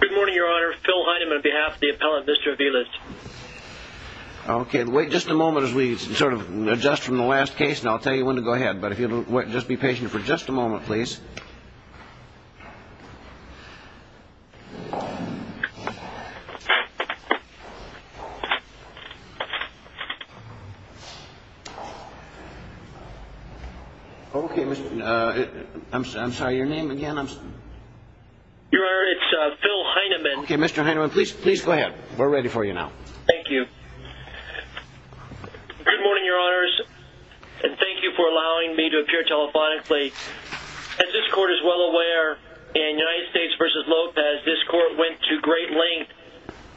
Good morning, your honor. Phil Heidem on behalf of the appellant, Mr. Aviles. Okay, wait just a moment as we sort of adjust from the last case, and I'll tell you when to go ahead. But if you'll just be patient for just a moment, please. Okay, I'm sorry, your name again? Your honor, it's Phil Heideman. Okay, Mr. Heideman, please, please go ahead. We're ready for you now. Thank you. Good morning, your honors. And thank you for allowing me to appear telephonically. As this court is well aware, in United States v. Lopez, this court went to great length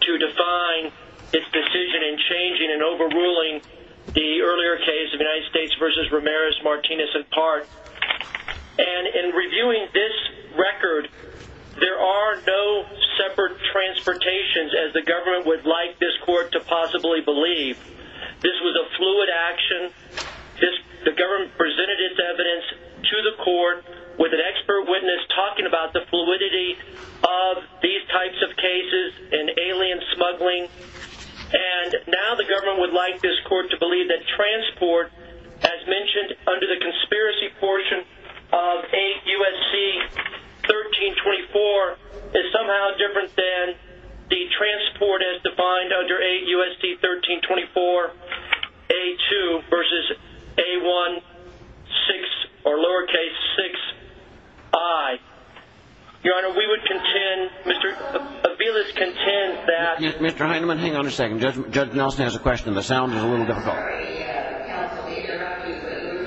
to define its decision in changing and overruling the earlier case of United States v. Ramirez, in part. And in reviewing this record, there are no separate transportations as the government would like this court to possibly believe. This was a fluid action. The government presented its evidence to the court with an expert witness talking about the fluidity of these types of cases and alien smuggling. And now the government would like this court to believe that transport, as mentioned under the conspiracy portion of 8 U.S.C. 1324, is somehow different than the transport as defined under 8 U.S.C. 1324 A-2 versus A-1-6 or lowercase 6 I. Your honor, we would contend, Mr. Aviles contends that- Mr. Heideman, hang on a second. Judge Nelson has a question. The sound is a little difficult. We're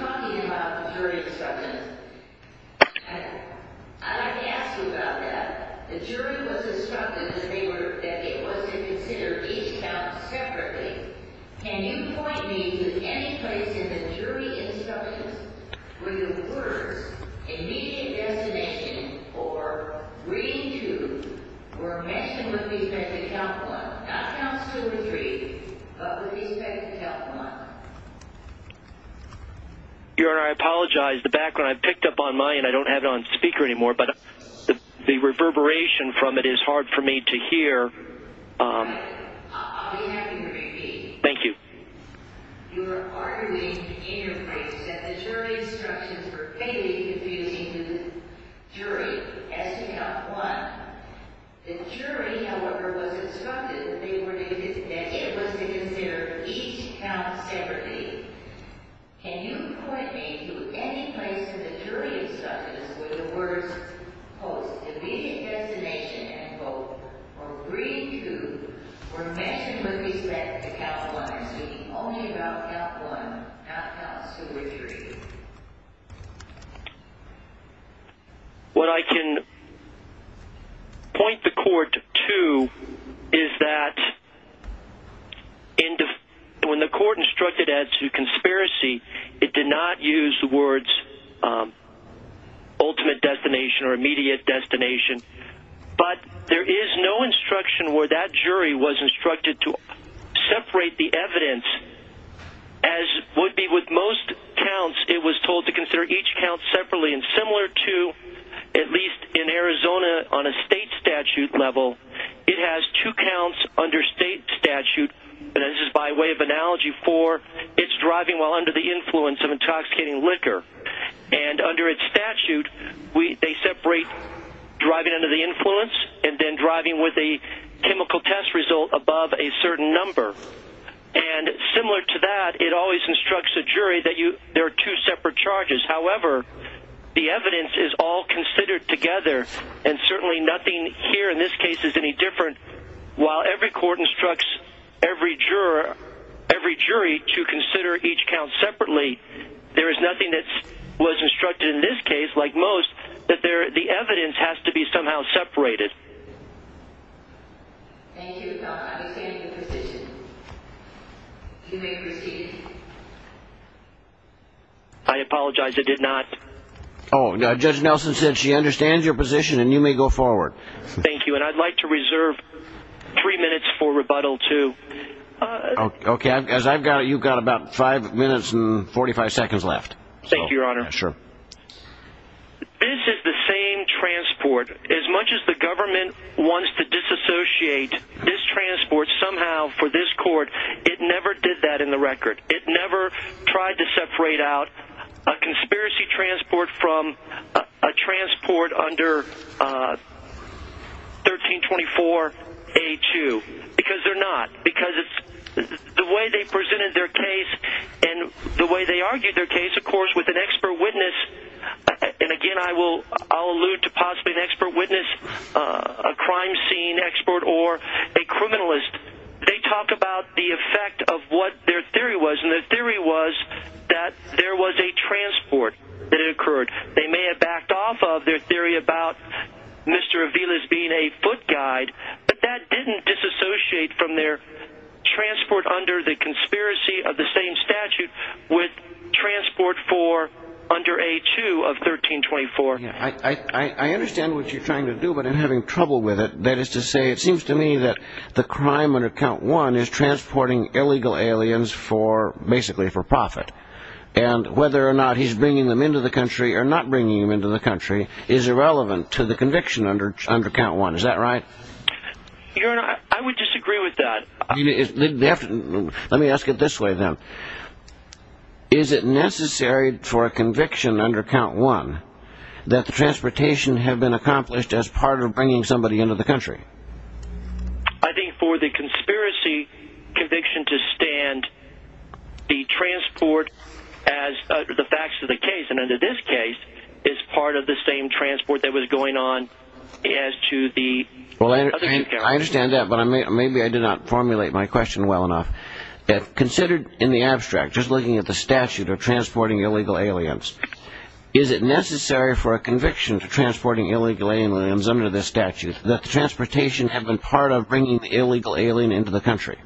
talking about the jury instructions. I'd like to ask you about that. The jury was instructed that it was to consider each count separately. Can you point me to any place in the jury instructions where the words immediate destination or reading to were mentioned with respect to count one? Not count two or three, but with respect to count one? Your honor, I apologize. The background I picked up on mine, I don't have it on speaker anymore, but the reverberation from it is hard for me to hear. All right. I'll be happy to repeat. Thank you. You are arguing in your place that the jury instructions were vaguely confusing to the jury as to count one. The jury, however, was instructed that it was to consider each count separately. Can you point me to any place in the jury instructions where the words immediate destination or reading to were mentioned with respect to count one? I'm speaking only about count one, not count two or three. What I can point the court to is that when the court instructed that to conspiracy, it did not use the words ultimate destination or immediate destination. But there is no instruction where that jury was instructed to separate the evidence, as would be with most counts. It was told to consider each count separately and similar to at least in Arizona on a state statute level. It has two counts under state statute, and this is by way of analogy for it's driving while under the influence of intoxicating liquor. And under its statute, they separate driving under the influence and then driving with a chemical test result above a certain number. And similar to that, it always instructs a jury that there are two separate charges. However, the evidence is all considered together and certainly nothing here in this case is any different. While every court instructs every jury to consider each separately, there is nothing that was instructed in this case, like most, that the evidence has to be somehow separated. Thank you. You may proceed. I apologize. I did not. Oh, Judge Nelson said she understands your position and you may go forward. Thank you. And I'd like to reserve three minutes for rebuttal to. OK, as I've got it, you've got about five minutes and 45 seconds left. Thank you, Your Honor. Sure. This is the same transport as much as the government wants to disassociate this transport somehow for this court. It never did that in the record. It never tried to separate out a conspiracy transport from a transport under. 1324, a two, because they're not because it's the way they presented their case and the way they argued their case, of course, with an expert witness. And again, I will I'll allude to possibly an expert witness, a crime scene expert or a criminalist. They talk about the effect of what their theory was. And the theory was that there was a transport that occurred. They may have backed off of their theory about Mr. Avila's being a foot guide, but that didn't disassociate from their transport under the conspiracy of the same statute with transport for under a two of 1324. I understand what you're trying to do, but I'm having trouble with it. That is to say, it seems to me that the crime on account one is transporting illegal aliens for basically for and whether or not he's bringing them into the country or not bringing them into the country is irrelevant to the conviction under under count one. Is that right? Your Honor, I would disagree with that. Let me ask it this way, then. Is it necessary for a conviction under count one that the transportation have been accomplished as part of bringing somebody into the country? I think for the conspiracy conviction to stand the transport as the facts of the case and under this case is part of the same transport that was going on as to the. Well, I understand that, but maybe I did not formulate my question well enough. Considered in the abstract, just looking at the statute of transporting illegal aliens, is it necessary for a conviction to transporting illegal aliens under this statute that the transportation have been part of bringing the illegal alien into the country?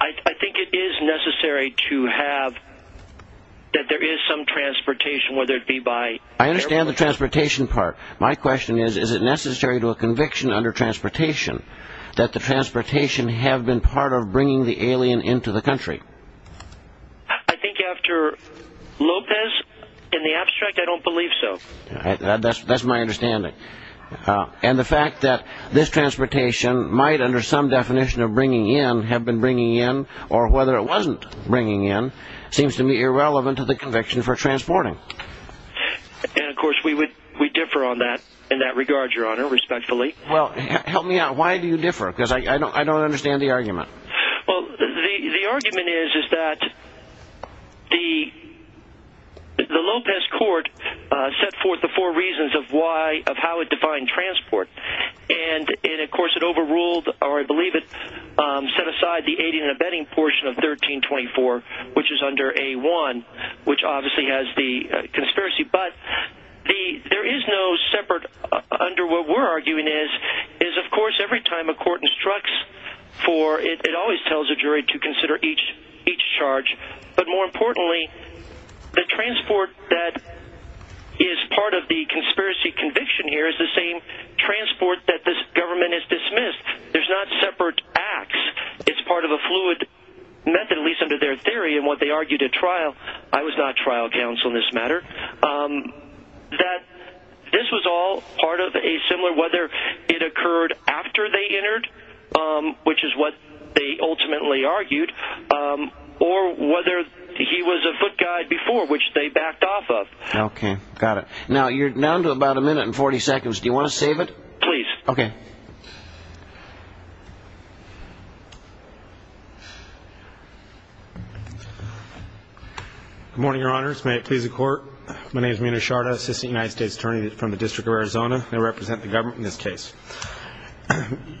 I think it is necessary to have that there is some transportation, whether it be by. I understand the transportation part. My question is, is it necessary to a conviction under transportation that the transportation have been part of bringing the alien into the country? I think after Lopez in the abstract, I don't believe so. That's my understanding. And the fact that this transportation might under some definition of bringing in have been bringing in or whether it wasn't bringing in seems to me irrelevant to the conviction for transporting. And of course, we would we differ on that in that regard, your honor, respectfully. Well, help me out. Why do you differ? Because I don't I don't understand the argument. Well, the argument is, is that the the Lopez court set forth the four reasons of why of how it defined transport. And of course, it overruled or I believe it set aside the aiding and abetting portion of 1324, which is under a one which obviously has the conspiracy. But the there is no separate under what we're arguing is, is, of course, every time a court instructs for it, it always tells a jury to consider each charge. But more importantly, the transport that is part of the conspiracy conviction here is the same transport that this government is dismissed. There's not separate acts. It's part of a fluid method, at least under their theory and what they argued at trial. I was not trial counsel in this matter that this was all part of a similar whether it occurred after they entered, which is what they ultimately argued, or whether he was a foot guide before, which they backed off of. OK, got it. Now you're down to about a minute and 40 seconds. Do you want to save it? Please. OK. Good morning, your honors. May it please the court. My name is Munoz Sharda, assistant United States attorney from the District of Arizona. I represent the government in this case.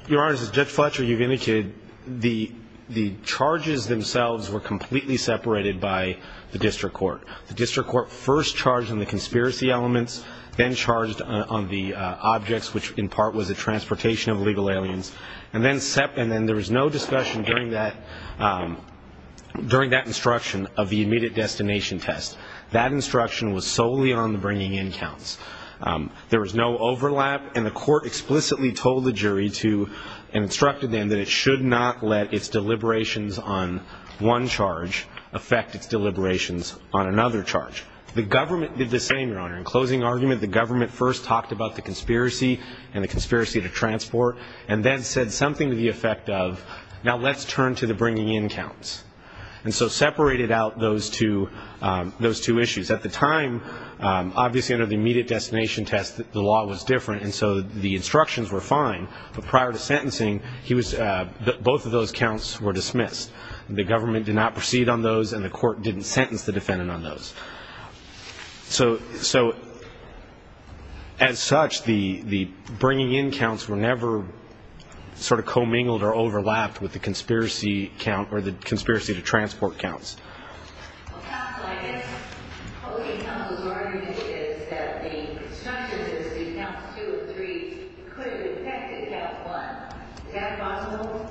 Your Honor, as Judge Fletcher, you've indicated the the charges themselves were completely separated by the district court. The district court first charged in the conspiracy elements, then charged on the objects, which in part was the transportation of illegal aliens, and then set. And then there was no discussion during that during that instruction of the immediate destination test. That instruction was solely on the bringing in counts. There was no overlap, and the court explicitly told the jury to and instructed them that it should not let its deliberations on one charge affect its deliberations on another charge. The government did the same, your honor. In closing argument, the government first talked about the conspiracy and the conspiracy to transport and then said something to the effect of now let's turn to the bringing in counts. And so separated out those two those two issues at the time obviously under the immediate destination test the law was different and so the instructions were fine, but prior to sentencing he was both of those counts were dismissed. The government did not proceed on those and the court didn't sentence the defendant on those. So so as such the the bringing in counts were never sort of commingled or overlapped with the conspiracy count or the some of those arguments is that the instructions is the counts two or three could have affected count one. Is that possible?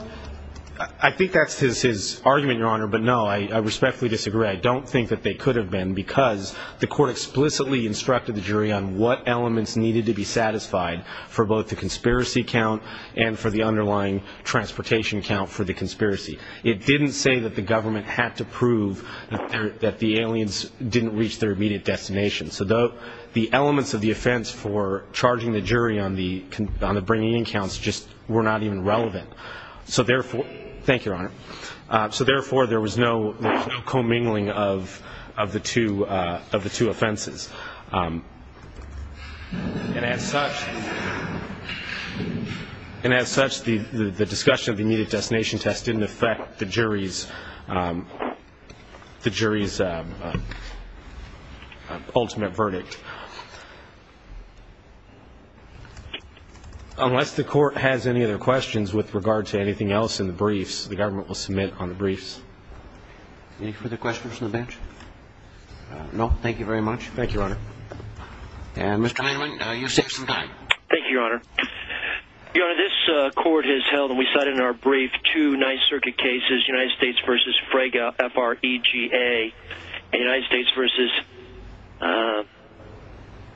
I think that's his his argument, your honor, but no I respectfully disagree. I don't think that they could have been because the court explicitly instructed the jury on what elements needed to be satisfied for both the conspiracy count and for the underlying transportation count for the conspiracy. It didn't say that the government had to prove that the aliens didn't reach their immediate destination. So though the elements of the offense for charging the jury on the on the bringing in counts just were not even relevant. So therefore thank you, your honor. So therefore there was no commingling of of the two of the two offenses. And as such and as such the the discussion of the immediate destination test didn't affect the jury's the jury's ultimate verdict. Unless the court has any other questions with regard to anything else in the briefs, the government will submit on the briefs. Any further questions from the bench? No, thank you very much. Thank you, your honor. And Mr. Heinlein, you have some time. Thank you, your honor. Your honor, this court has held and we cited in our brief two ninth circuit cases, United States versus Frega, F-R-E-G-A, United States versus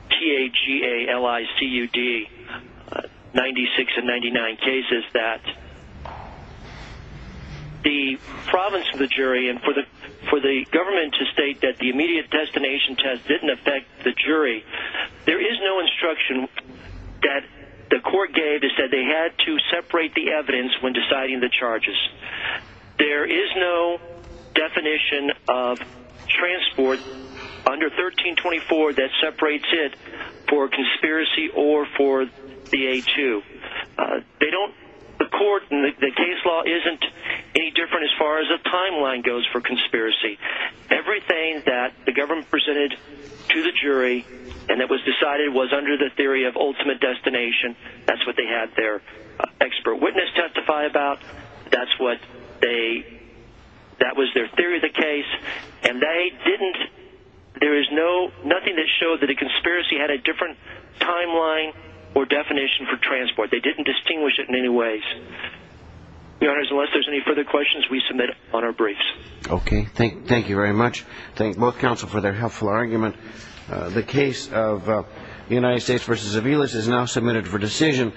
T-A-G-A-L-I-C-U-D, 96 and 99 cases that the province of the jury and for the for the government to state that the immediate destination test didn't affect the jury. There is no instruction that the court gave is that they had to separate the evidence when deciding the charges. There is no definition of transport under 1324 that separates it for conspiracy or for the A2. They don't the court and the case law isn't any different as far as the timeline goes for conspiracy. Everything that the government presented to the jury and that was decided was under the theory of ultimate destination. That's they had their expert witness testify about. That's what they that was their theory of the case and they didn't there is no nothing that showed that a conspiracy had a different timeline or definition for transport. They didn't distinguish it in any ways. Your honors, unless there's any further questions, we submit on our briefs. Okay, thank you very much. Thank both counsel for their helpful argument. The case of the United States versus Aviles is now submitted for decision.